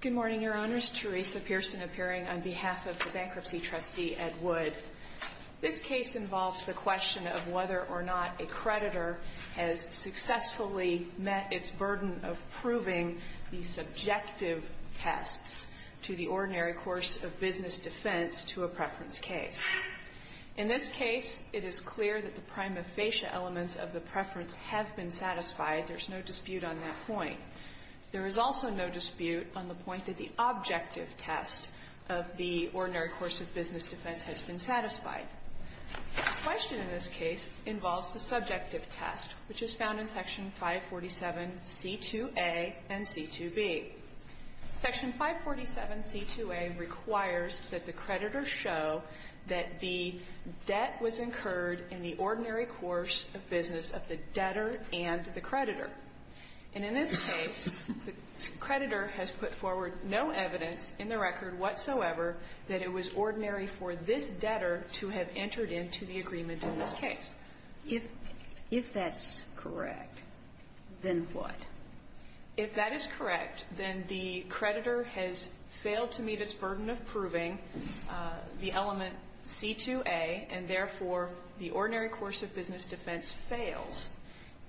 Good morning, Your Honors. Teresa Pearson appearing on behalf of the Bankruptcy Trustee, Ed Wood. This case involves the question of whether or not a creditor has successfully met its burden of proving the subjective tests to the ordinary course of business defense to a preference case. In this case, it is clear that the prima facie elements of the preference have been satisfied. There is no dispute on that point. There is also no dispute on the point that the objective test of the ordinary course of business defense has been satisfied. The question in this case involves the subjective test, which is found in Section 547C2A and C2B. Section 547C2A requires that the creditor show that the debt was incurred in the ordinary course of business of the debtor and the creditor. And in this case, the creditor has put forward no evidence in the record whatsoever that it was ordinary for this debtor to have entered into the agreement in this case. If that's correct, then what? If that is correct, then the creditor has failed to meet its burden of proving the element C2A, and therefore, the ordinary course of business defense fails.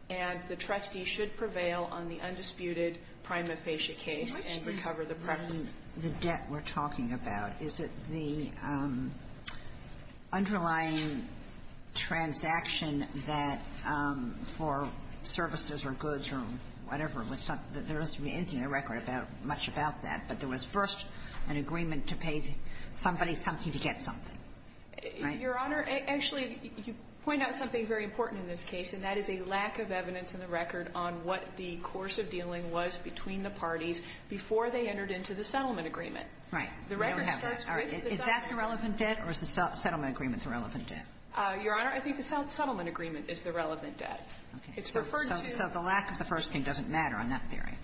And the trustee should prevail on the undisputed prima facie case and recover the preference. Sotomayor, the debt we're talking about, is it the underlying transaction that for services or goods or whatever, there doesn't seem to be anything in the record much about that, but there was first an agreement to pay somebody something to get something, right? Your Honor, actually, you point out something very important in this case, and that is a lack of evidence in the record on what the course of dealing was between the parties before they entered into the settlement agreement. Right. We don't have that. Is that the relevant debt, or is the settlement agreement the relevant debt? Your Honor, I think the settlement agreement is the relevant debt. It's referred to the lack of the first thing doesn't matter on that theory.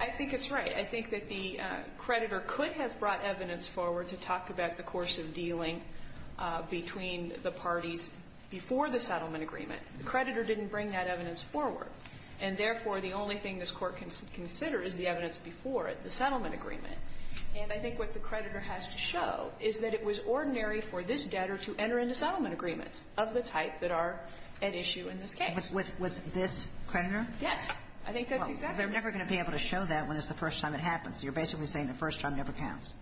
I think it's right. I think that the creditor could have brought evidence forward to talk about the course of dealing between the parties before the settlement agreement. The creditor didn't bring that evidence forward. And therefore, the only thing this Court can consider is the evidence before it, the settlement agreement. And I think what the creditor has to show is that it was ordinary for this debtor to enter into settlement agreements of the type that are at issue in this case. With this creditor? Yes. I think that's exactly right. Well, they're never going to be able to show that when it's the first time it happens. You're basically saying the first time never counts.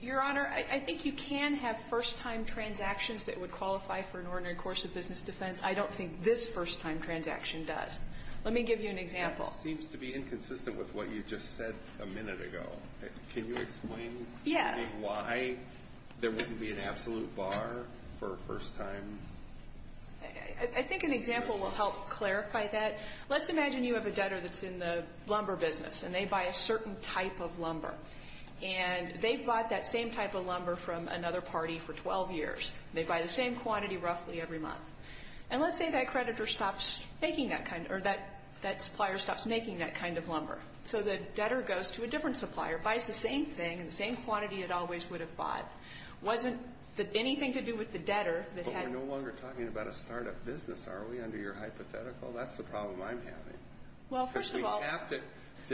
Your Honor, I think you can have first-time transactions that would qualify for an ordinary course of business defense. I don't think this first-time transaction does. Let me give you an example. It seems to be inconsistent with what you just said a minute ago. Can you explain to me why there wouldn't be an absolute bar for a first-time? I think an example will help clarify that. Let's imagine you have a debtor that's in the lumber business, and they buy a certain type of lumber. And they've bought that same type of lumber from another party for 12 years. They buy the same quantity roughly every month. And let's say that creditor stops making that kind, or that supplier stops making that kind of lumber. So the debtor goes to a different supplier, buys the same thing, and the same quantity it always would have bought. Wasn't anything to do with the debtor that had... But we're no longer talking about a start-up business, are we, under your hypothetical? That's the problem I'm having. Well, first of all... Because we have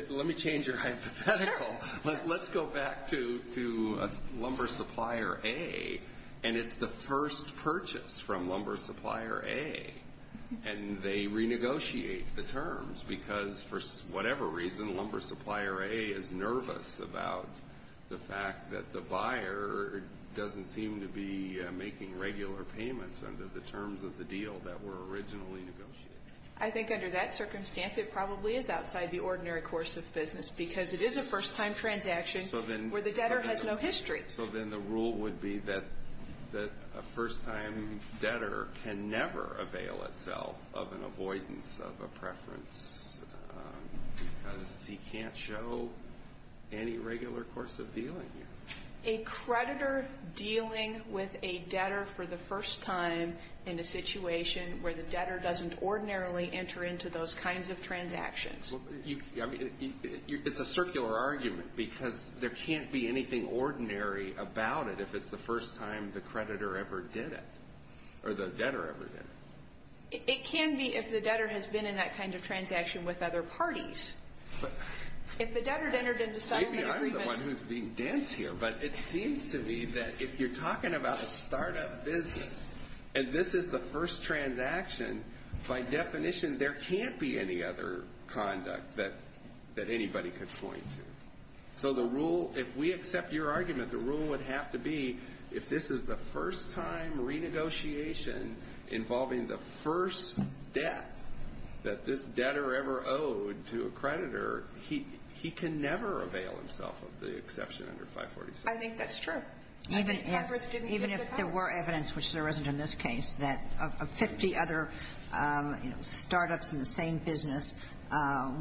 to... Let me change your hypothetical. Sure. Let's go back to Lumber Supplier A, and it's the first purchase from Lumber Supplier A. And they renegotiate the terms, because for whatever reason, Lumber Supplier A is nervous about the fact that the buyer doesn't seem to be making regular payments under the terms of the deal that were originally negotiated. I think under that circumstance, it probably is outside the ordinary course of business, because it is a first-time transaction where the debtor has no history. So then the rule would be that a first-time debtor can never avail itself of an avoidance of a preference, because he can't show any regular course of dealing here. A creditor dealing with a debtor for the first time in a situation where the debtor doesn't ordinarily enter into those kinds of transactions. I mean, it's a circular argument, because there can't be anything ordinary about it if it's the first time the creditor ever did it, or the debtor ever did it. It can be if the debtor has been in that kind of transaction with other parties. If the debtor entered into settlement agreements... Maybe I'm the one who's being dense here, but it seems to me that if you're talking about a startup business, and this is the first transaction, by definition, there can't be any other conduct that anybody could point to. So the rule, if we accept your argument, the rule would have to be if this is the first-time renegotiation involving the first debt that this debtor ever owed to a creditor, he can never avail himself of the exception under 546. I think that's true. Even if there were evidence, which there isn't in this case, that of 50 other startups in the same business,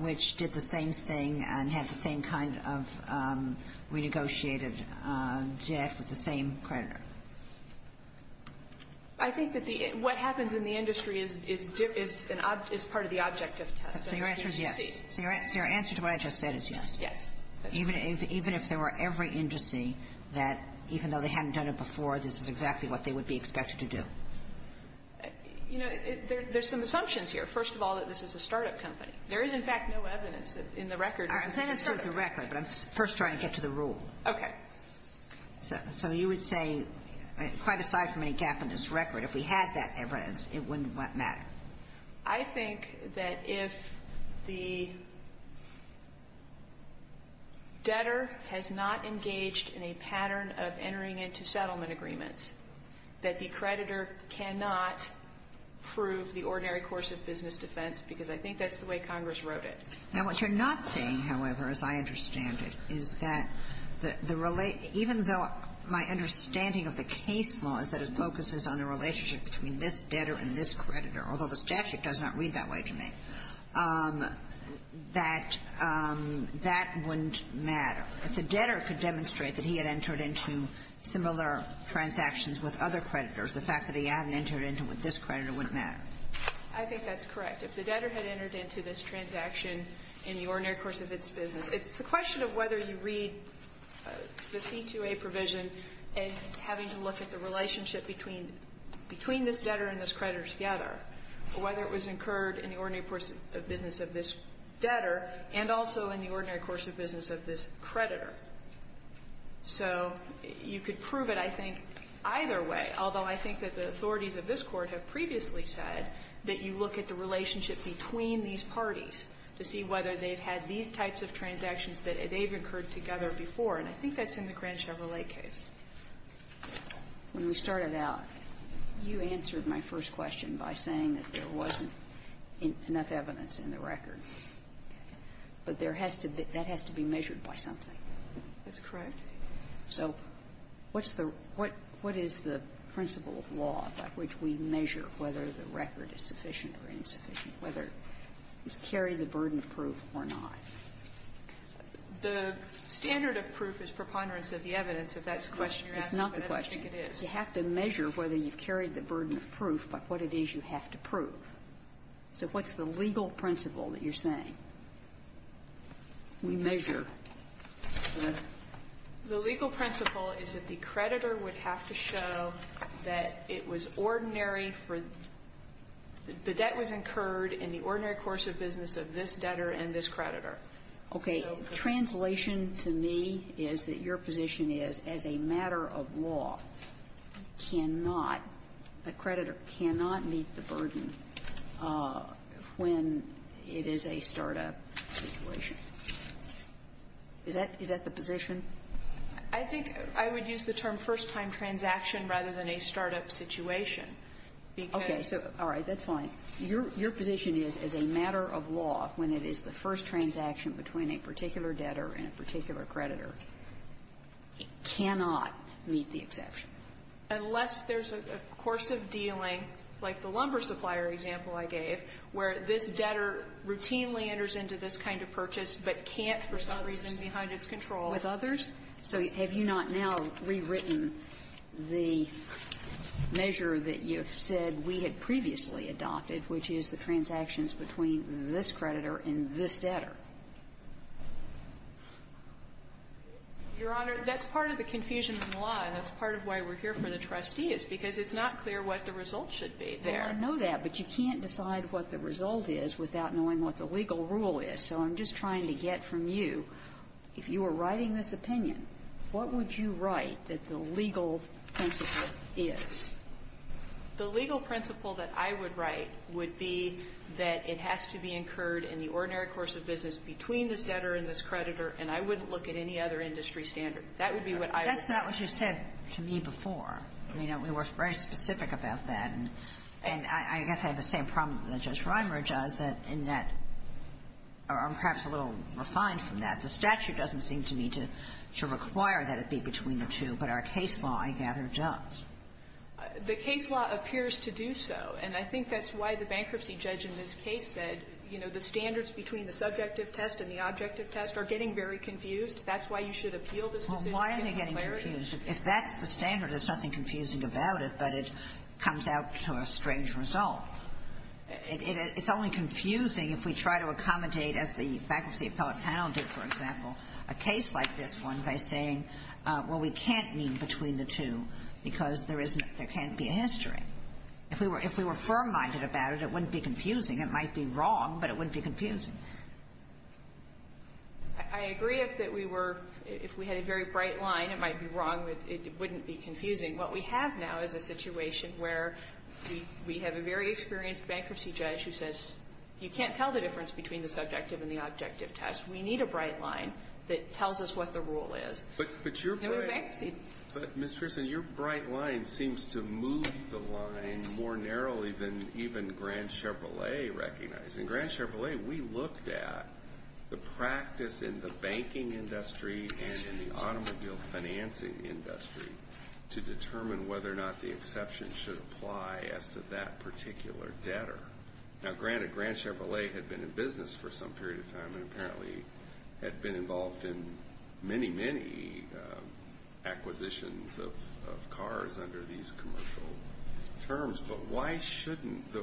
which did the same thing and had the same kind of renegotiated debt with the same creditor. I think that the — what happens in the industry is part of the objective test. So your answer is yes. So your answer to what I just said is yes. Yes. Even if there were every indice that, even though they hadn't done it before, this is exactly what they would be expected to do. You know, there's some assumptions here. First of all, that this is a startup company. There is, in fact, no evidence in the record that this is a startup company. I'm saying it's not in the record, but I'm first trying to get to the rule. Okay. So you would say, quite aside from any gap in this record, if we had that evidence, it wouldn't matter. I think that if the debtor has not engaged in a pattern of entering into settlement agreements, that the creditor cannot prove the ordinary course of business defense, because I think that's the way Congress wrote it. Now, what you're not saying, however, as I understand it, is that the — even though my understanding of the case law is that it focuses on the relationship between this debtor and this creditor, although the statute does not read that way to me, that that wouldn't matter. If the debtor could demonstrate that he had entered into similar transactions with other creditors, the fact that he hadn't entered into it with this creditor wouldn't matter. I think that's correct. If the debtor had entered into this transaction in the ordinary course of its business — it's the question of whether you read the C2A provision as having to look at the relationship between this debtor and this creditor together, or whether it was incurred in the ordinary course of business of this debtor and also in the ordinary course of business of this creditor. So you could prove it, I think, either way, although I think that the authorities of this Court have previously said that you look at the relationship between these parties to see whether they've had these types of transactions that they've incurred together before, and I think that's in the Grand Chevrolet case. When we started out, you answered my first question by saying that there wasn't enough evidence in the record. But there has to be — that has to be measured by something. That's correct. So what's the — what is the principle of law by which we measure whether the record is sufficient or insufficient, whether you carry the burden of proof or not? The standard of proof is preponderance of the evidence, if that's the question you're asking. But I don't think it is. It's not the question. You have to measure whether you've carried the burden of proof by what it is you have to prove. So what's the legal principle that you're saying? We measure the — The legal principle is that the creditor would have to show that it was ordinary for — the debt was incurred in the ordinary course of business of this debtor and this creditor. Okay. Translation to me is that your position is, as a matter of law, cannot — a creditor cannot meet the burden when it is a startup situation. Is that — is that the position? I think I would use the term first-time transaction rather than a startup situation, because — Okay. So, all right. That's fine. Your — your position is, as a matter of law, when it is the first transaction between a particular debtor and a particular creditor, it cannot meet the exception. Unless there's a course of dealing, like the lumber supplier example I gave, where this debtor routinely enters into this kind of purchase but can't, for some reason, behind its control. With others? So have you not now rewritten the measure that you've said we had previously adopted, which is the transactions between this creditor and this debtor? Your Honor, that's part of the confusion of the law. And that's part of why we're here for the trustees, because it's not clear what the result should be there. Well, I know that. But you can't decide what the result is without knowing what the legal rule is. So I'm just trying to get from you, if you were writing this opinion, what would you write that the legal principle is? The legal principle that I would write would be that it has to be incurred in the ordinary course of business between this debtor and this creditor, and I wouldn't look at any other industry standard. That would be what I would write. But that's not what you said to me before. You know, we were very specific about that. And I guess I have the same problem that Judge Rimer does, that in that or I'm perhaps a little refined from that. The statute doesn't seem to me to require that it be between the two, but our case law, I gather, does. The case law appears to do so, and I think that's why the bankruptcy judge in this case said, you know, the standards between the subjective test and the objective test are getting very confused. That's why you should appeal this decision. Well, why are they getting confused? If that's the standard, there's nothing confusing about it, but it comes out to a strange result. It's only confusing if we try to accommodate, as the bankruptcy appellate panel did, for example, a case like this one by saying, well, we can't meet between the two because there isn't there can't be a history. If we were firm-minded about it, it wouldn't be confusing. It might be wrong, but it wouldn't be confusing. I agree that if we were – if we had a very bright line, it might be wrong, but it wouldn't be confusing. What we have now is a situation where we have a very experienced bankruptcy judge who says, you can't tell the difference between the subjective and the objective test. We need a bright line that tells us what the rule is. But your – And we bankruptcy. But, Ms. Pearson, your bright line seems to move the line more narrowly than even Grand Chevrolet recognized. In Grand Chevrolet, we looked at the practice in the banking industry and in the automobile financing industry to determine whether or not the exception should apply as to that particular debtor. Now, granted, Grand Chevrolet had been in business for some period of time and apparently had been involved in many, many acquisitions of cars under these commercial terms. But why shouldn't the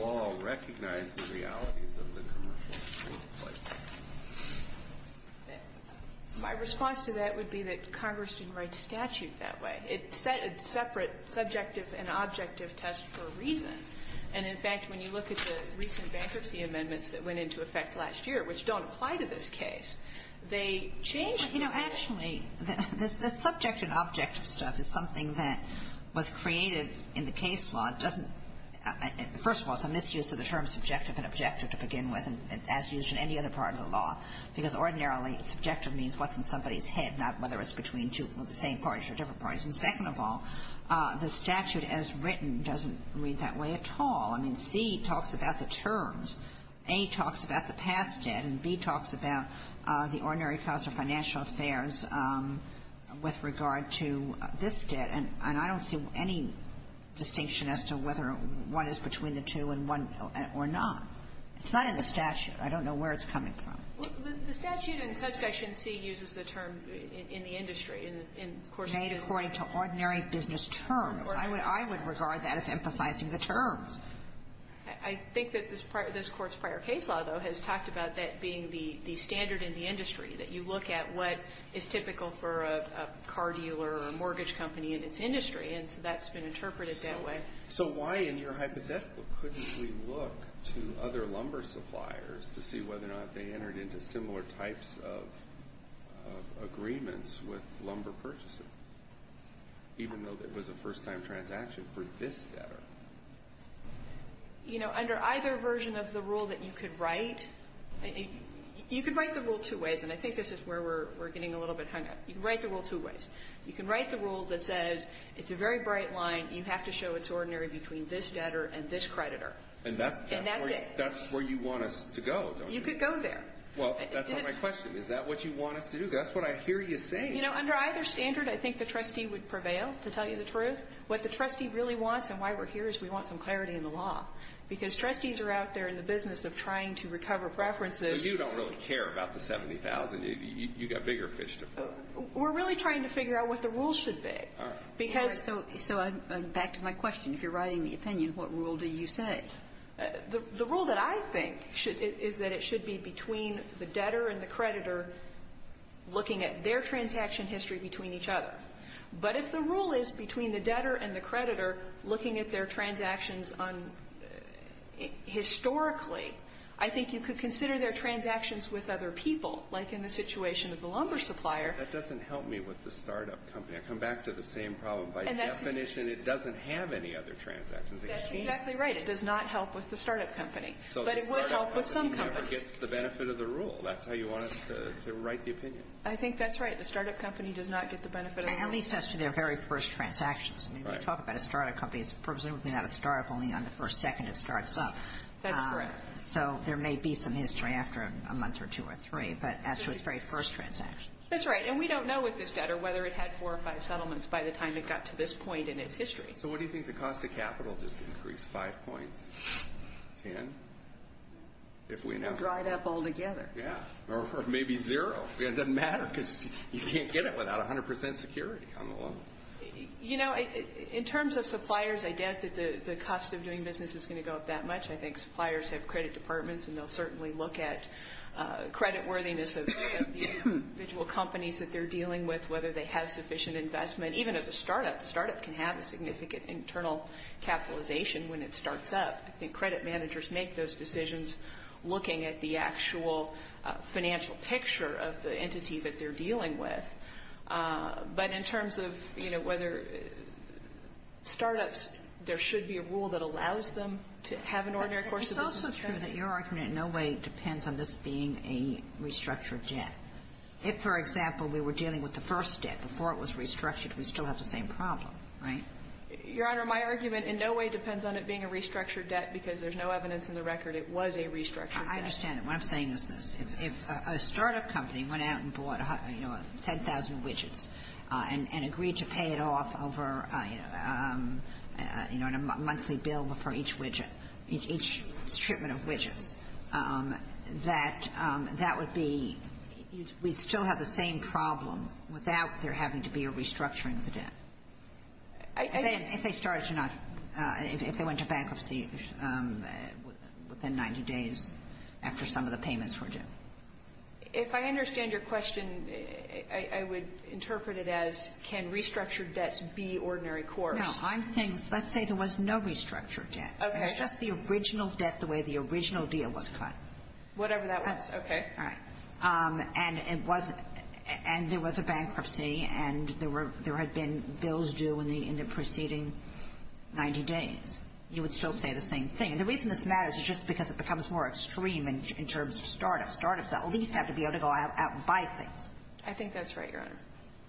law recognize the realities of the commercial rule? My response to that would be that Congress didn't write statute that way. It set a separate subjective and objective test for a reason. And, in fact, when you look at the recent bankruptcy amendments that went into effect last year, which don't apply to this case, they change the rule. You know, actually, the subjective and objective stuff is something that was created in the case law. It doesn't — first of all, it's a misuse of the terms subjective and objective to begin with, as used in any other part of the law, because ordinarily, subjective means what's in somebody's head, not whether it's between two of the same parties or different parties. And second of all, the statute as written doesn't read that way at all. I mean, C talks about the terms. A talks about the past debt. And B talks about the ordinary cause of financial affairs with regard to this debt. And I don't see any distinction as to whether one is between the two and one or not. It's not in the statute. I don't know where it's coming from. Well, the statute in subsection C uses the term in the industry, in the course of business. Made according to ordinary business terms. I would regard that as emphasizing the terms. I think that this Court's prior case law, though, has talked about that being the standard in the industry, that you look at what is typical for a car dealer or a mortgage company in its industry. And so that's been interpreted that way. So why, in your hypothetical, couldn't we look to other lumber suppliers to see whether or not they entered into similar types of agreements with lumber purchasers, even though it was a first-time transaction for this debtor? You know, under either version of the rule that you could write, you could write the rule two ways. And I think this is where we're getting a little bit hung up. You can write the rule two ways. You can write the rule that says, it's a very bright line. You have to show it's ordinary between this debtor and this creditor. And that's it. That's where you want us to go, don't you? You could go there. Well, that's not my question. Is that what you want us to do? That's what I hear you saying. You know, under either standard, I think the trustee would prevail, to tell you the truth. What the trustee really wants and why we're here is we want some clarity in the law. Because trustees are out there in the business of trying to recover preferences. So you don't really care about the $70,000. You've got bigger fish to fry. We're really trying to figure out what the rules should be. Because so I'm back to my question. If you're writing the opinion, what rule do you say? The rule that I think is that it should be between the debtor and the creditor looking at their transaction history between each other. But if the rule is between the debtor and the creditor looking at their transactions on historically, I think you could consider their transactions with other people, like in the situation of the lumber supplier. That doesn't help me with the startup company. I come back to the same problem. By definition, it doesn't have any other transactions. That's exactly right. It does not help with the startup company. But it would help with some companies. So the startup company never gets the benefit of the rule. That's how you want us to write the opinion. I think that's right. The startup company does not get the benefit of the rule. At least as to their very first transactions. Right. I mean, when you talk about a startup company, it's presumably not a startup only on the first second it starts up. That's correct. So there may be some history after a month or two or three, but as to its very first transaction. That's right. And we don't know with this debtor whether it had four or five settlements by the time it got to this point in its history. So what do you think the cost of capital just increased? Five points? Ten? If we know. Dried up all together. Yeah. Or maybe zero. It doesn't matter because you can't get it without 100% security on the loan. You know, in terms of suppliers, I doubt that the cost of doing business is going to go up that much. I think suppliers have credit departments and they'll certainly look at credit worthiness of the individual companies that they're dealing with. Whether they have sufficient investment. Even as a startup, a startup can have a significant internal capitalization when it starts up. I think credit managers make those decisions looking at the actual financial picture of the entity that they're dealing with. But in terms of, you know, whether startups, there should be a rule that allows them to have an ordinary course of business. It's also true that your argument in no way depends on this being a restructured debt. If, for example, we were dealing with the first debt before it was restructured, we still have the same problem, right? Your Honor, my argument in no way depends on it being a restructured debt because there's no evidence in the record it was a restructured debt. I understand. What I'm saying is this. If a startup company went out and bought, you know, 10,000 widgets and agreed to pay it off over, you know, in a monthly bill for each widget, each shipment of widgets, that that would be we'd still have the same problem without there having to be a restructuring of the debt. If they started to not, if they went to bankruptcy within 90 days after some of the payments were due. If I understand your question, I would interpret it as can restructured debts be ordinary course? No, I'm saying let's say there was no restructured debt. Okay. It's just the original debt the way the original deal was cut. Whatever that was. Okay. All right. And it wasn't and there was a bankruptcy and there were there had been bills due in the in the preceding 90 days. You would still say the same thing. And the reason this matters is just because it becomes more extreme in terms of startups. Startups at least have to be able to go out and buy things. I think that's right, Your Honor.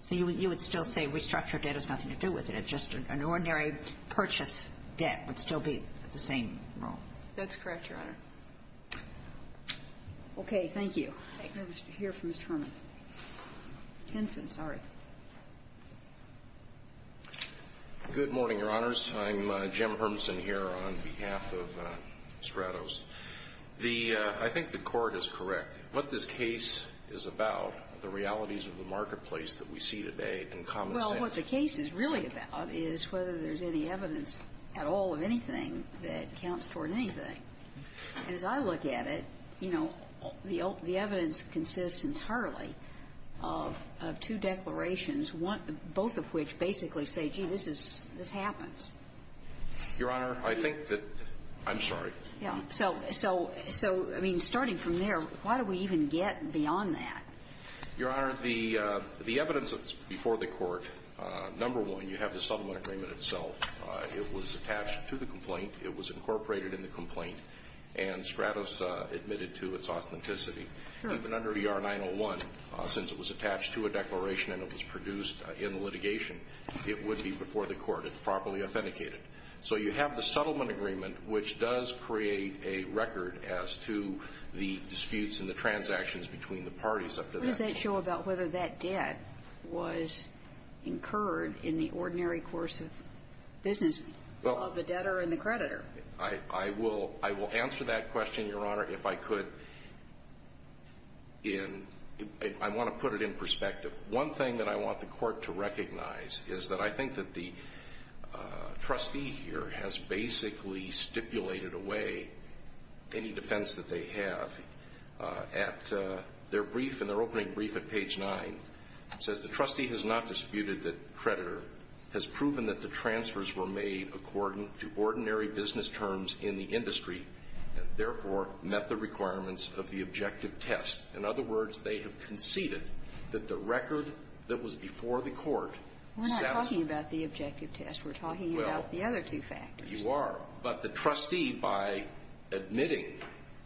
So you would still say restructured debt has nothing to do with it. It's just an ordinary purchase debt would still be the same. That's correct, Your Honor. Okay. Thank you. Hear from Mr. Herman. Timpson, sorry. Good morning, Your Honors. I'm Jim Hermsen here on behalf of Stratos. The I think the Court is correct. What this case is about, the realities of the marketplace that we see today in common sense. Well, what the case is really about is whether there's any evidence at all of anything that counts toward anything. And as I look at it, you know, the evidence consists entirely of two declarations, both of which basically say, gee, this happens. Your Honor, I think that – I'm sorry. So, I mean, starting from there, why do we even get beyond that? Your Honor, the evidence before the Court, number one, you have the settlement agreement itself. It was attached to the complaint. It was incorporated in the complaint. And Stratos admitted to its authenticity. Even under the R-901, since it was attached to a declaration and it was produced in litigation, it would be before the Court. It's properly authenticated. So you have the settlement agreement, which does create a record as to the disputes and the transactions between the parties up to that point. What does that show about whether that debt was incurred in the ordinary course of business of the debtor and the creditor? I will answer that question, Your Honor, if I could in – I want to put it in perspective. One thing that I want the Court to recognize is that I think that the trustee here has basically stipulated away any defense that they have at their brief, in their opening brief at page 9. It says, the trustee has not disputed that the creditor has proven that the transfers were made according to ordinary business terms in the industry and, therefore, met the requirements of the objective test. In other words, they have conceded that the record that was before the Court satisfied the objective test. We're not talking about the objective test. We're talking about the other two factors. Well, you are. But the trustee, by admitting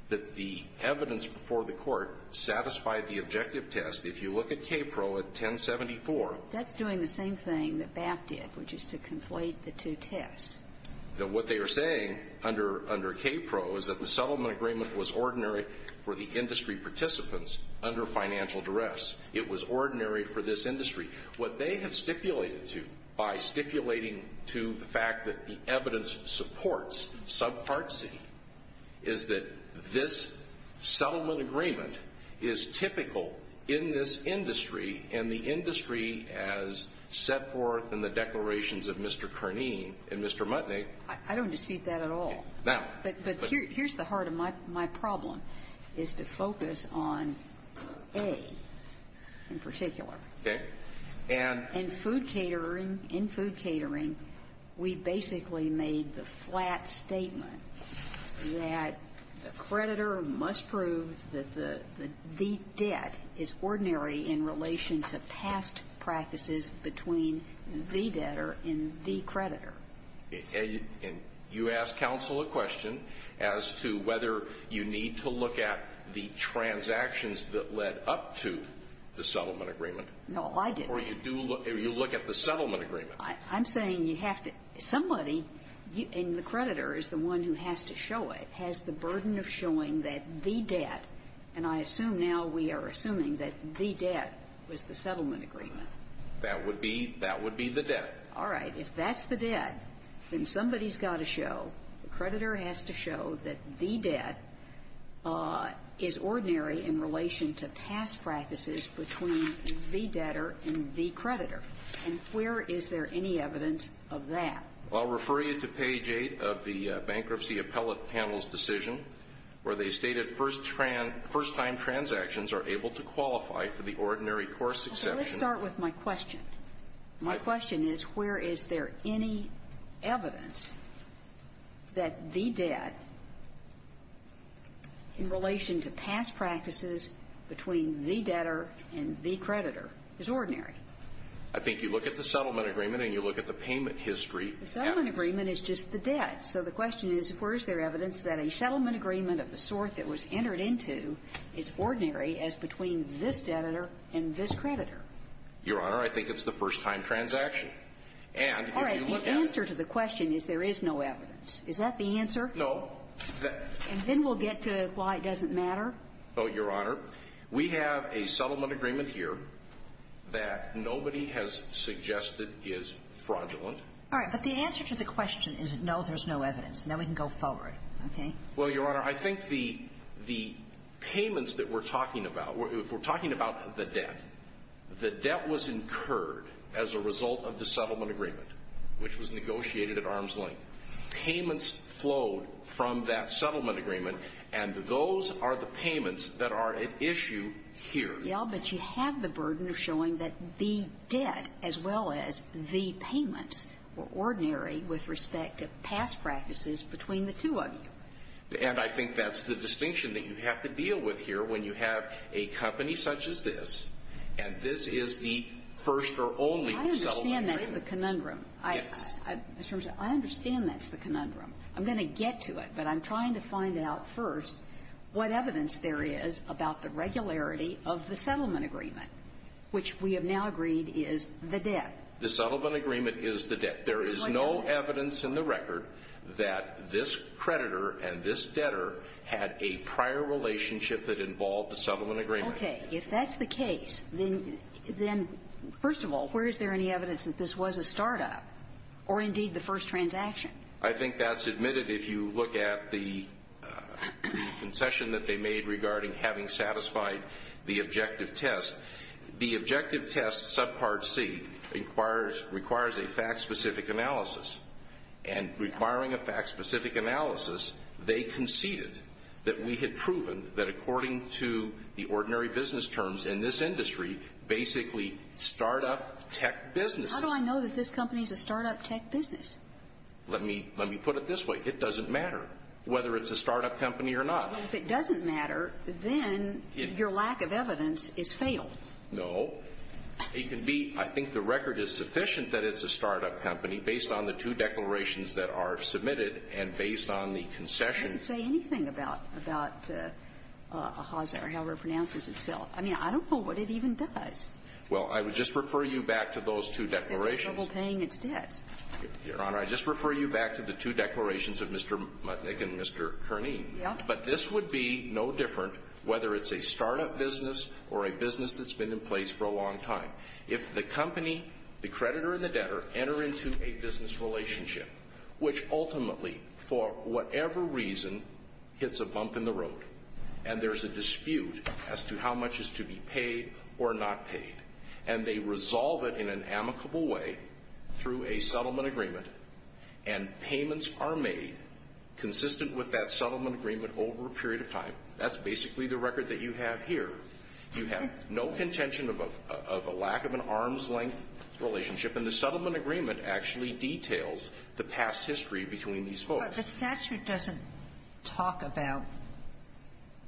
that the evidence before the Court satisfied the objective test, if you look at KPRO at 1074. That's doing the same thing that BAP did, which is to conflate the two tests. Now, what they are saying under KPRO is that the settlement agreement was ordinary for the industry participants under financial duress. It was ordinary for this industry. What they have stipulated to, by stipulating to the fact that the evidence supports subpart is that this settlement agreement is typical in this industry and the industry as set forth in the declarations of Mr. Kearney and Mr. Mutnick. I don't dispute that at all. Now. But here's the heart of my problem, is to focus on A in particular. Okay. And food catering, in food catering, we basically made the flat statement that the creditor must prove that the debt is ordinary in relation to past practices between the debtor and the creditor. And you ask counsel a question as to whether you need to look at the transactions that led up to the settlement agreement. No, I didn't. Or you look at the settlement agreement. I'm saying you have to, somebody, and the creditor is the one who has to show it, has the burden of showing that the debt, and I assume now we are assuming that the debt was the settlement agreement. That would be, that would be the debt. All right. If that's the debt, then somebody's got to show, the creditor has to show that the debt is ordinary in relation to past practices between the debtor and the creditor. And where is there any evidence of that? I'll refer you to page 8 of the bankruptcy appellate panel's decision, where they stated first time transactions are able to qualify for the ordinary course exception. Let's start with my question. My question is, where is there any evidence that the debt in relation to past practices between the debtor and the creditor is ordinary? I think you look at the settlement agreement and you look at the payment history. The settlement agreement is just the debt. So the question is, where is there evidence that a settlement agreement of the sort that was entered into is ordinary as between this debtor and this creditor? Your Honor, I think it's the first time transaction. And if you look at it All right. The answer to the question is there is no evidence. Is that the answer? No. And then we'll get to why it doesn't matter. Well, Your Honor, we have a settlement agreement here that nobody has suggested is fraudulent. All right. But the answer to the question is, no, there's no evidence. Now we can go forward. Okay. Well, Your Honor, I think the payments that we're talking about, if we're talking about the debt, the debt was incurred as a result of the settlement agreement, which was negotiated at arm's length. Payments flowed from that settlement agreement. And those are the payments that are at issue here. Yeah, but you have the burden of showing that the debt as well as the payments were ordinary with respect to past practices between the two of you. And I think that's the distinction that you have to deal with here when you have a company such as this, and this is the first or only settlement agreement. I understand that's the conundrum. Yes. I understand that's the conundrum. I'm going to get to it, but I'm trying to find out first what evidence there is about the regularity of the settlement agreement, which we have now agreed is the debt. The settlement agreement is the debt. There is no evidence in the record that this creditor and this debtor had a prior relationship that involved the settlement agreement. Okay. If that's the case, then first of all, where is there any evidence that this was a start-up or indeed the first transaction? I think that's admitted if you look at the concession that they made regarding having satisfied the objective test. The objective test, subpart C, requires a fact-specific analysis. And requiring a fact-specific analysis, they conceded that we had proven that according to the ordinary business terms in this industry, basically start-up tech businesses. How do I know that this company is a start-up tech business? Let me put it this way. It doesn't matter whether it's a start-up company or not. Well, if it doesn't matter, then your lack of evidence is fatal. No. It can be. I think the record is sufficient that it's a start-up company based on the two declarations that are submitted and based on the concession. I didn't say anything about Haase or however it pronounces itself. I mean, I don't know what it even does. Well, I would just refer you back to those two declarations. It's having trouble paying its debts. Your Honor, I'd just refer you back to the two declarations of Mr. Mutnick and Mr. Kerney. Yes. But this would be no different whether it's a start-up business or a business that's been in place for a long time. If the company, the creditor and the debtor, enter into a business relationship, which ultimately, for whatever reason, hits a bump in the road and there's a dispute as to how much is to be paid or not paid, and they resolve it in an amicable way through a settlement agreement and payments are made consistent with that settlement agreement over a period of time, that's basically the record that you have here. You have no contention of a lack of an arm's-length relationship. And the settlement agreement actually details the past history between these folks. But the statute doesn't talk about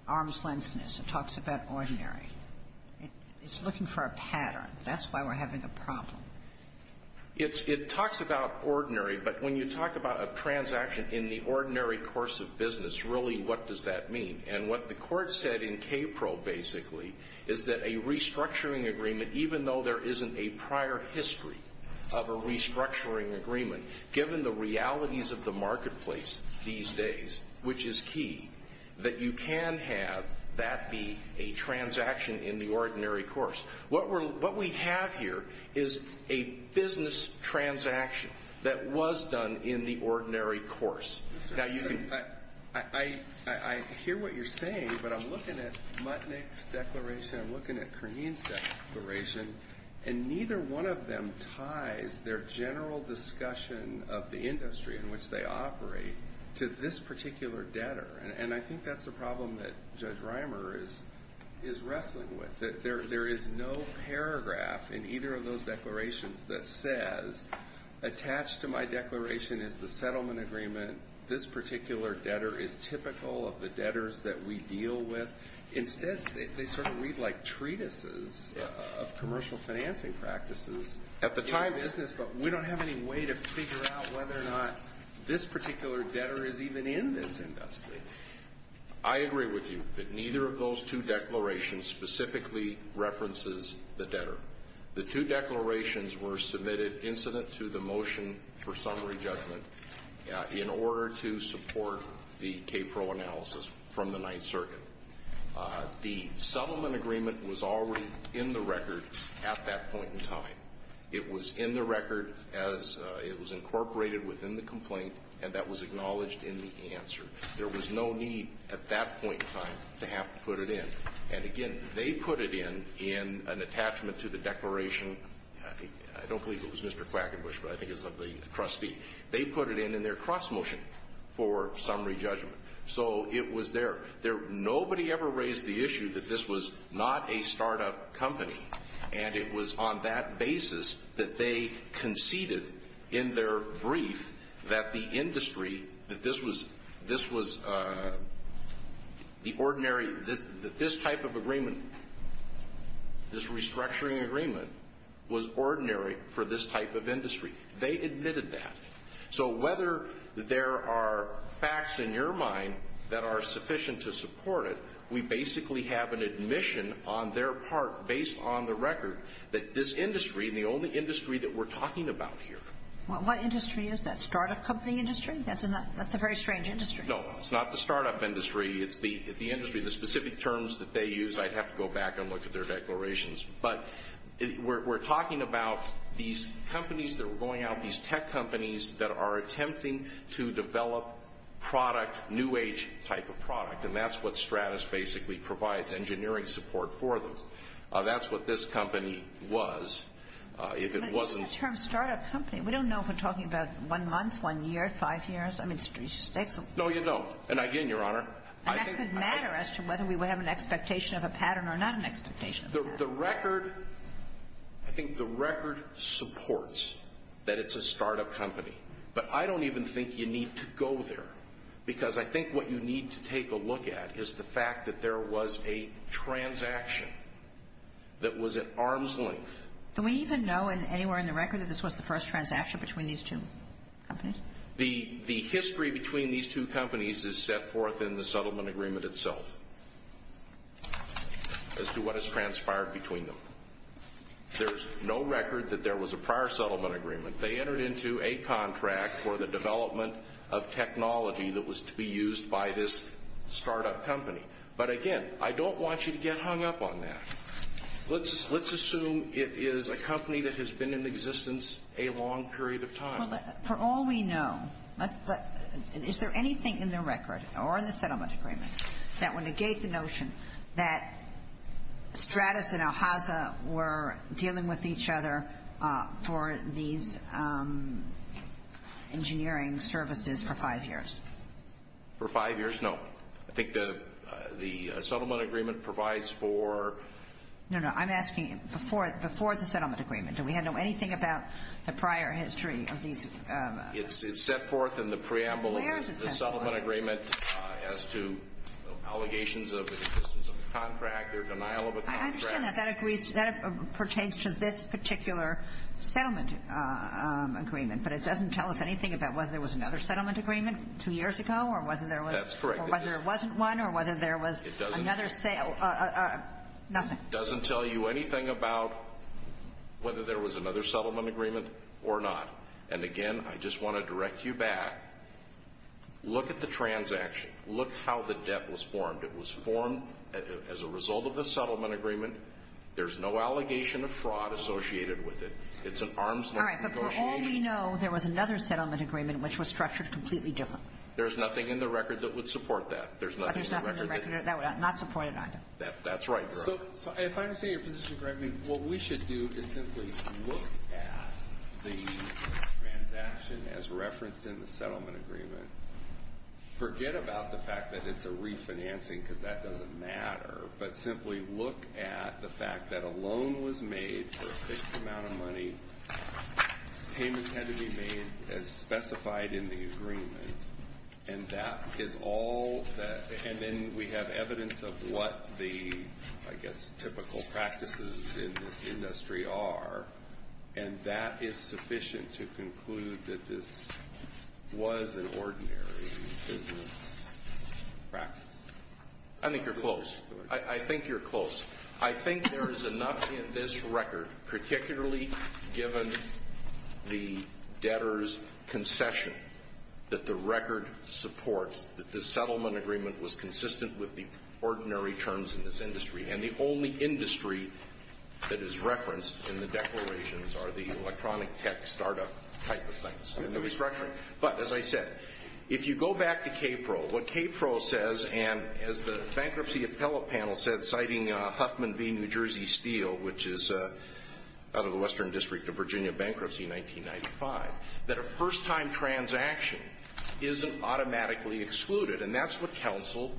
arm's-lengthness. It talks about ordinary. It's looking for a pattern. That's why we're having a problem. It talks about ordinary. But when you talk about a transaction in the ordinary course of business, really what does that mean? And what the Court said in K-Pro, basically, is that a restructuring agreement, even though there isn't a prior history of a restructuring agreement, given the realities of the marketplace these days, which is key, that you can have that be a transaction in the ordinary course. What we have here is a business transaction that was done in the ordinary course. Now, you can... I hear what you're saying, but I'm looking at Mutnick's declaration. I'm looking at Kurnian's declaration. And neither one of them ties their general discussion of the industry in which they operate to this particular debtor. And I think that's a problem that Judge Reimer is wrestling with, that there is no paragraph in either of those declarations that says, attached to my declaration is the settlement agreement. This particular debtor is typical of the debtors that we deal with. Instead, they sort of read like treatises of commercial financing practices. At the time, business, but we don't have any way to figure out whether or not this particular debtor is even in this industry. I agree with you that neither of those two declarations specifically references the debtor. The two declarations were submitted incident to the motion for summary judgment in order to support the KPRO analysis from the Ninth Circuit. The settlement agreement was already in the record at that point in time. It was in the record as it was incorporated within the complaint, and that was acknowledged in the answer. There was no need at that point in time to have to put it in. And again, they put it in in an attachment to the declaration. I don't believe it was Mr. Quackenbush, but I think it's of the trustee. They put it in in their cross motion for summary judgment. So it was there. Nobody ever raised the issue that this was not a startup company. And it was on that basis that they conceded in their brief that the industry, that this was the ordinary, that this type of agreement, this restructuring agreement, was ordinary for this type of industry. They admitted that. So whether there are facts in your mind that are sufficient to support it, we basically have an admission on their part, based on the record, that this industry, the only industry that we're talking about here. What industry is that? Startup company industry? That's a very strange industry. No. It's not the startup industry. It's the industry. The specific terms that they use, I'd have to go back and look at their declarations. But we're talking about these companies that are going out, these tech companies that are attempting to develop product, new age type of product. And that's what Stratis basically provides, engineering support for them. That's what this company was. If it wasn't... But you said the term startup company. We don't know if we're talking about one month, one year, five years. I mean, it's... No, you don't. And again, Your Honor, I think... expectation of a pattern. The record... I think the record supports that it's a startup company. But I don't even think you need to go there. Because I think what you need to take a look at is the fact that there was a transaction that was at arm's length. Do we even know, anywhere in the record, that this was the first transaction between these two companies? The history between these two companies is set forth in the settlement agreement itself, as to what has transpired between them. There's no record that there was a prior settlement agreement. They entered into a contract for the development of technology that was to be used by this startup company. But again, I don't want you to get hung up on that. Let's assume it is a company that has been in existence a long period of time. For all we know, is there anything in the record, or in the settlement agreement, that would negate the notion that Stratis and Alhazza were dealing with each other for these engineering services for five years? For five years? No. I think the settlement agreement provides for... No, no. I'm asking before the settlement agreement, do we know anything about the prior history of these... It's set forth in the preamble... Where is it set forth? In the settlement agreement, as to allegations of existence of a contract, or denial of a contract. I understand that. That pertains to this particular settlement agreement, but it doesn't tell us anything about whether there was another settlement agreement two years ago, or whether there was... That's correct. Or whether there wasn't one, or whether there was another... It doesn't... Nothing. It doesn't tell you anything about whether there was another settlement agreement, or not. And, again, I just want to direct you back. Look at the transaction. Look how the debt was formed. It was formed as a result of a settlement agreement. There's no allegation of fraud associated with it. It's an arm's length negotiation... All right. But for all we know, there was another settlement agreement, which was structured completely different. There's nothing in the record that would support that. There's nothing in the record that... But there's nothing in the record that would not support it either. That's right, Your Honor. So, if I understand your position correctly, what we should do is simply look at the transaction as referenced in the settlement agreement. Forget about the fact that it's a refinancing, because that doesn't matter, but simply look at the fact that a loan was made for a fixed amount of money. Payments had to be made as specified in the agreement. And that is all that... And then we have evidence of what the, I guess, typical practices in this industry are. And that is sufficient to conclude that this was an ordinary business practice. I think you're close. I think you're close. I think there is enough in this record, particularly given the debtor's concession, that the record supports that the settlement agreement was consistent with the ordinary terms in this industry. And the only industry that is referenced in the declarations are the electronic tech startup type of things. And they're restructuring. But, as I said, if you go back to KPRO, what KPRO says, and as the bankruptcy appellate panel said, citing Huffman v. New Jersey Steel, which is out of the Western District of Virginia Bankruptcy 1995, that a first-time transaction isn't automatically excluded. And that's what counsel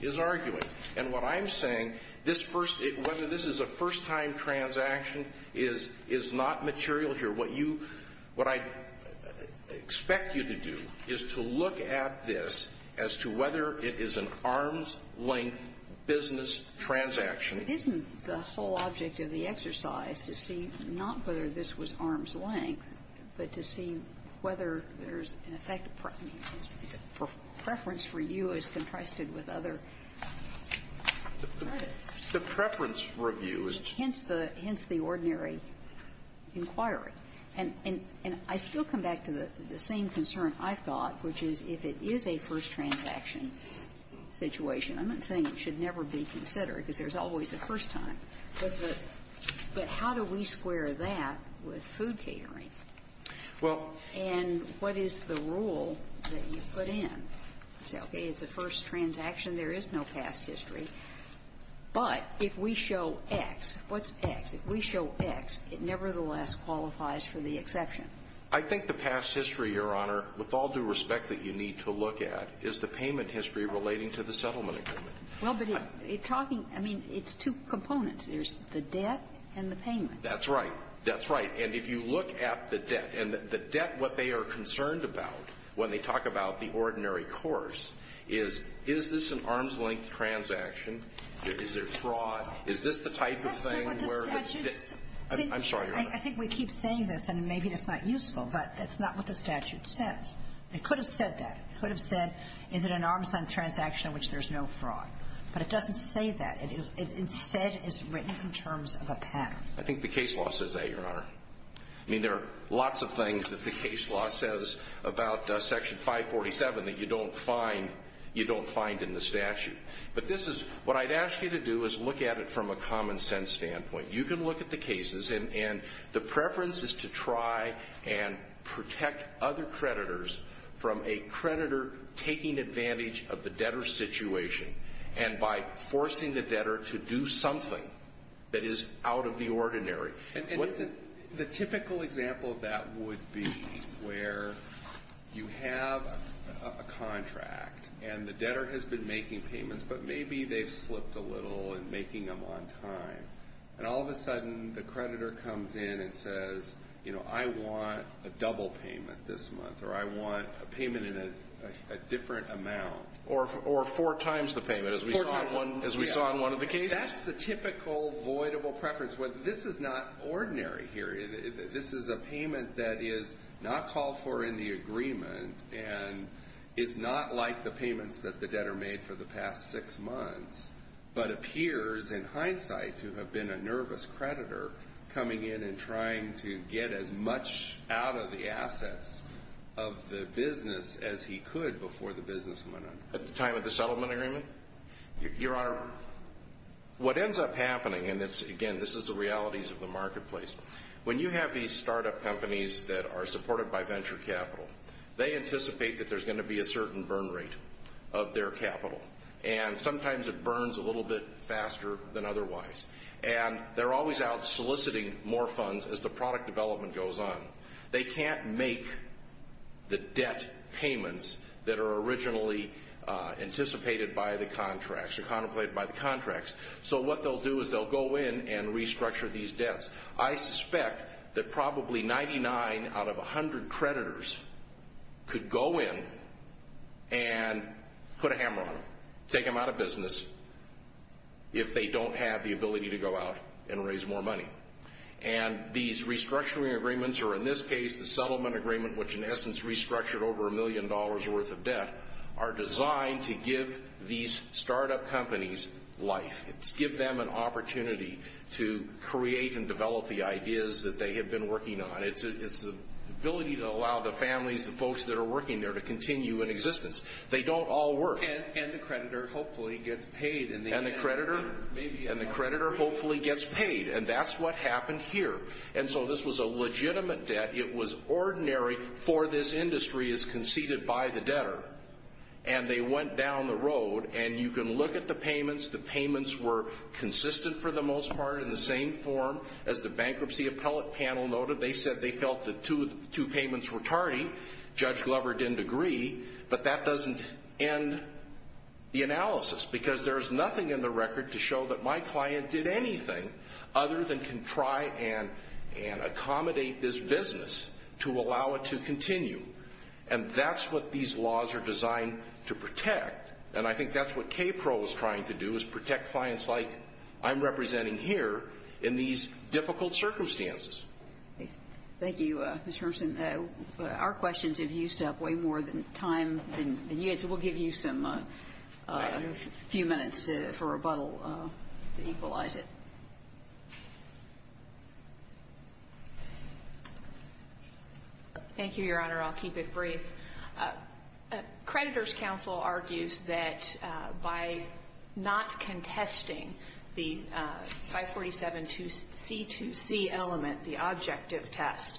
is arguing. And what I'm saying, whether this is a first-time transaction is not material here. What you – what I expect you to do is to look at this as to whether it is an arm's length business transaction. It isn't the whole object of the exercise to see not whether this was arm's length, but to see whether there's an effect – I mean, it's a preference for you as contrasted with other credits. The preference review is to – hence the – hence the ordinary inquiry. And I still come back to the same concern I thought, which is if it is a first-transaction situation, I'm not saying it should never be considered because there's always a first time, but how do we square that with food catering? And what is the rule that you put in? You say, okay, it's a first transaction, there is no past history. But if we show X, what's X? If we show X, it nevertheless qualifies for the exception. I think the past history, Your Honor, with all due respect that you need to look at, is the payment history relating to the settlement agreement. Well, but it – it talking – I mean, it's two components. There's the debt and the payment. That's right. That's right. And if you look at the debt, and the debt, what they are concerned about when they talk about the ordinary course is, is this an arm's-length transaction? Is there fraud? Is this the type of thing where it's debt – That's not what the statute – I'm sorry, Your Honor. I think we keep saying this, and maybe it's not useful, but that's not what the statute says. It could have said that. It could have said, is it an arm's-length transaction in which there's no fraud? But it doesn't say that. It is – it instead is written in terms of a path. I think the case law says that, Your Honor. I mean, there are lots of things that the case law says about Section 547 that you don't find – you don't find in the statute. But this is – what I'd ask you to do is look at it from a common-sense standpoint. You can look at the cases, and the preference is to try and protect other creditors from a creditor taking advantage of the debtor's situation, and by forcing the debtor to do something that is out of the ordinary. And what's a – the typical example of that would be where you have a contract, and the debtor has been making payments, but maybe they've slipped a little in making them on time, and all of a sudden, the creditor comes in and says, you know, I want a double payment this month, or I want a payment in a different amount. Or four times the payment, as we saw in one – as we saw in one of the cases. That's the typical voidable preference. This is not ordinary here. This is a payment that is not called for in the agreement, and is not like the payments that the debtor made for the past six months, but appears in hindsight to have been a nervous creditor coming in and trying to get as much out of the assets of the business as he could before the business went under. At the time of the settlement agreement? Your Honor, what ends up happening, and it's – again, this is the realities of the marketplace. When you have these startup companies that are supported by venture capital, they anticipate that there's going to be a certain burn rate of their capital. And sometimes it burns a little bit faster than otherwise. And they're always out soliciting more funds as the product development goes on. They can't make the debt payments that are originally anticipated by the contracts, contemplated by the contracts. So what they'll do is they'll go in and restructure these debts. I suspect that probably 99 out of 100 creditors could go in and put a hammer on them, take them out of business, if they don't have the ability to go out and raise more money. And these restructuring agreements, or in this case, the settlement agreement, which in essence restructured over a million dollars' worth of debt, are designed to give these startup companies life. It's give them an opportunity to create and develop the ideas that they have been working on. It's the ability to allow the families, the folks that are working there, to continue in existence. They don't all work. And the creditor hopefully gets paid in the end. And the creditor? Maybe. And the creditor hopefully gets paid. And that's what happened here. And so this was a legitimate debt. It was ordinary for this industry as conceded by the debtor. And they went down the road. And you can look at the payments. The payments were consistent for the most part, in the same form as the bankruptcy appellate panel noted. They said they felt the two payments were tardy. Judge Glover didn't agree. But that doesn't end the analysis. Because there is nothing in the record to show that my client did anything other than can try and accommodate this business to allow it to continue. And that's what these laws are designed to protect. And I think that's what KPRO is trying to do, is protect clients like I'm representing here in these difficult circumstances. Thank you, Mr. Hermsen. Our questions have used up way more time than you had, so we'll give you a few minutes for rebuttal to equalize it. Thank you, Your Honor, I'll keep it brief. Creditors counsel argues that by not contesting the 547C2C element, the objective test,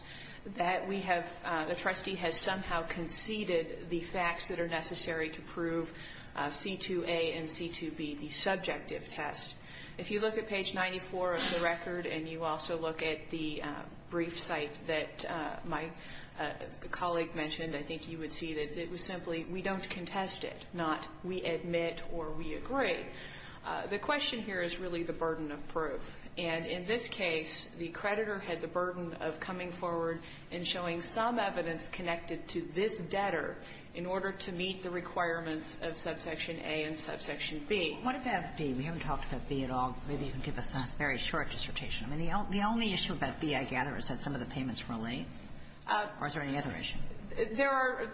that the trustee has somehow conceded the facts that are necessary to prove C2A and C2B, the subjective test. If you look at page 94 of the record, and you also look at the brief cite that my colleague mentioned, I think you would see that it was simply, we don't contest it, not we admit or we agree. The question here is really the burden of proof. And in this case, the creditor had the burden of coming forward and showing some evidence connected to this debtor in order to meet the requirements of subsection A and subsection B. What about B? We haven't talked about B at all. Maybe you can give us a very short dissertation. I mean, the only issue about B, I gather, is that some of the payments were late? Or is there any other issue? There are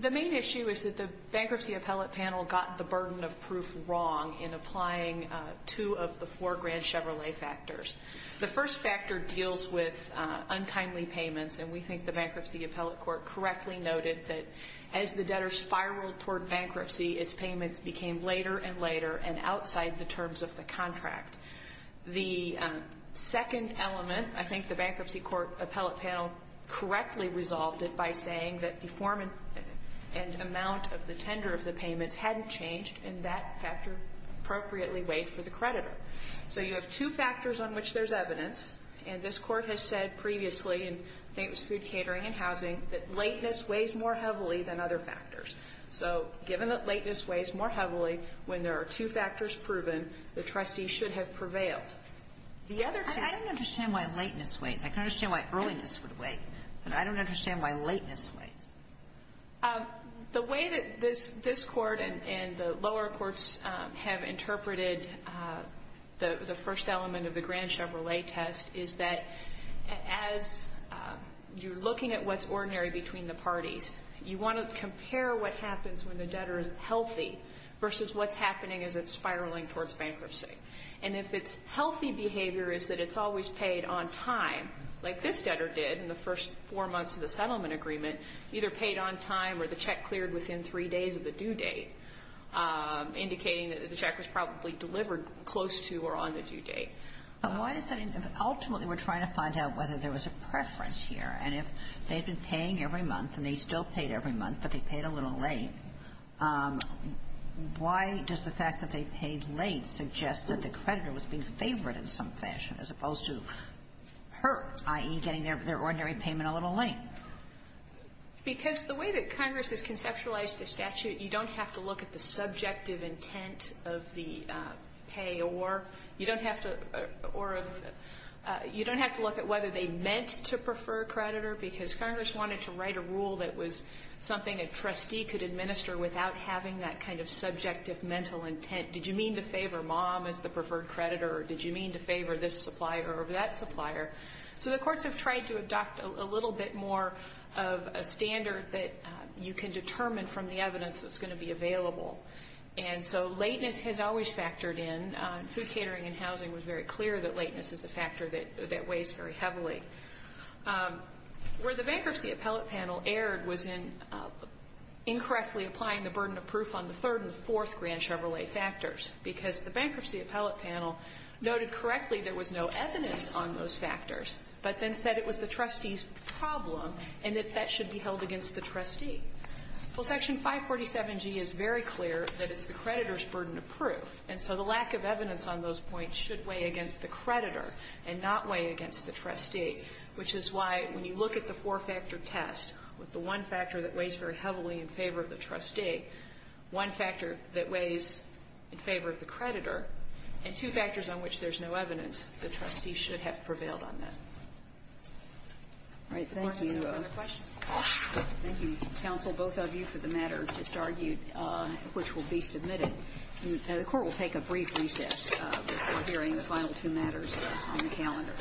the main issue is that the bankruptcy appellate panel got the burden of proof wrong in applying two of the four grand Chevrolet factors. The first factor deals with untimely payments, and we think the bankruptcy appellate court correctly noted that as the debtor spiraled toward bankruptcy, its payments became later and later and outside the terms of the contract. The second element, I think the bankruptcy court appellate panel correctly resolved it by saying that the form and amount of the tender of the payments hadn't changed, and that factor appropriately weighed for the creditor. So you have two factors on which there's evidence, and this Court has said previously in, I think it was food catering and housing, that lateness weighs more heavily than other factors. So given that lateness weighs more heavily when there are two factors proven, the trustee should have prevailed. The other thing that I don't understand why lateness weighs. I can understand why earliness would weigh. But I don't understand why lateness weighs. The way that this Court and the lower courts have interpreted the first element of the grand Chevrolet test is that as you're looking at what's ordinary between the parties, you want to compare what happens when the debtor is healthy versus what's happening as it's spiraling towards bankruptcy. And if its healthy behavior is that it's always paid on time, like this debtor did in the first four months of the settlement agreement, either paid on time or the check cleared within three days of the due date, indicating that the check was probably delivered close to or on the due date. And why is that? Ultimately, we're trying to find out whether there was a preference here. And if they've been paying every month, and they still paid every month, but they paid a little late, why does the fact that they paid late suggest that the creditor was being favored in some fashion as opposed to hurt, i.e., getting their ordinary payment a little late? Because the way that Congress has conceptualized the statute, you don't have to look at the subjective intent of the pay or you don't have to look at whether they meant to prefer a creditor, because Congress wanted to write a rule that was something a trustee could administer without having that kind of subjective mental intent. Did you mean to favor mom as the preferred creditor, or did you mean to favor this supplier or that supplier? So the courts have tried to adopt a little bit more of a standard that you can determine from the evidence that's going to be available. And so lateness has always factored in. Food catering and housing was very clear that lateness is a factor that weighs very heavily. Where the bankruptcy appellate panel erred was in incorrectly applying the burden of factors, because the bankruptcy appellate panel noted correctly there was no evidence on those factors, but then said it was the trustee's problem and that that should be held against the trustee. Well, Section 547G is very clear that it's the creditor's burden of proof, and so the lack of evidence on those points should weigh against the creditor and not weigh against the trustee, which is why when you look at the four-factor test with the one factor that weighs very heavily in favor of the trustee, one factor that weighs in favor of the creditor, and two factors on which there's no evidence, the trustee should have prevailed on that. All right. Thank you. Any other questions? Thank you, counsel, both of you for the matter just argued, which will be submitted. The Court will take a brief recess before hearing the final two matters on the calendar. All rise.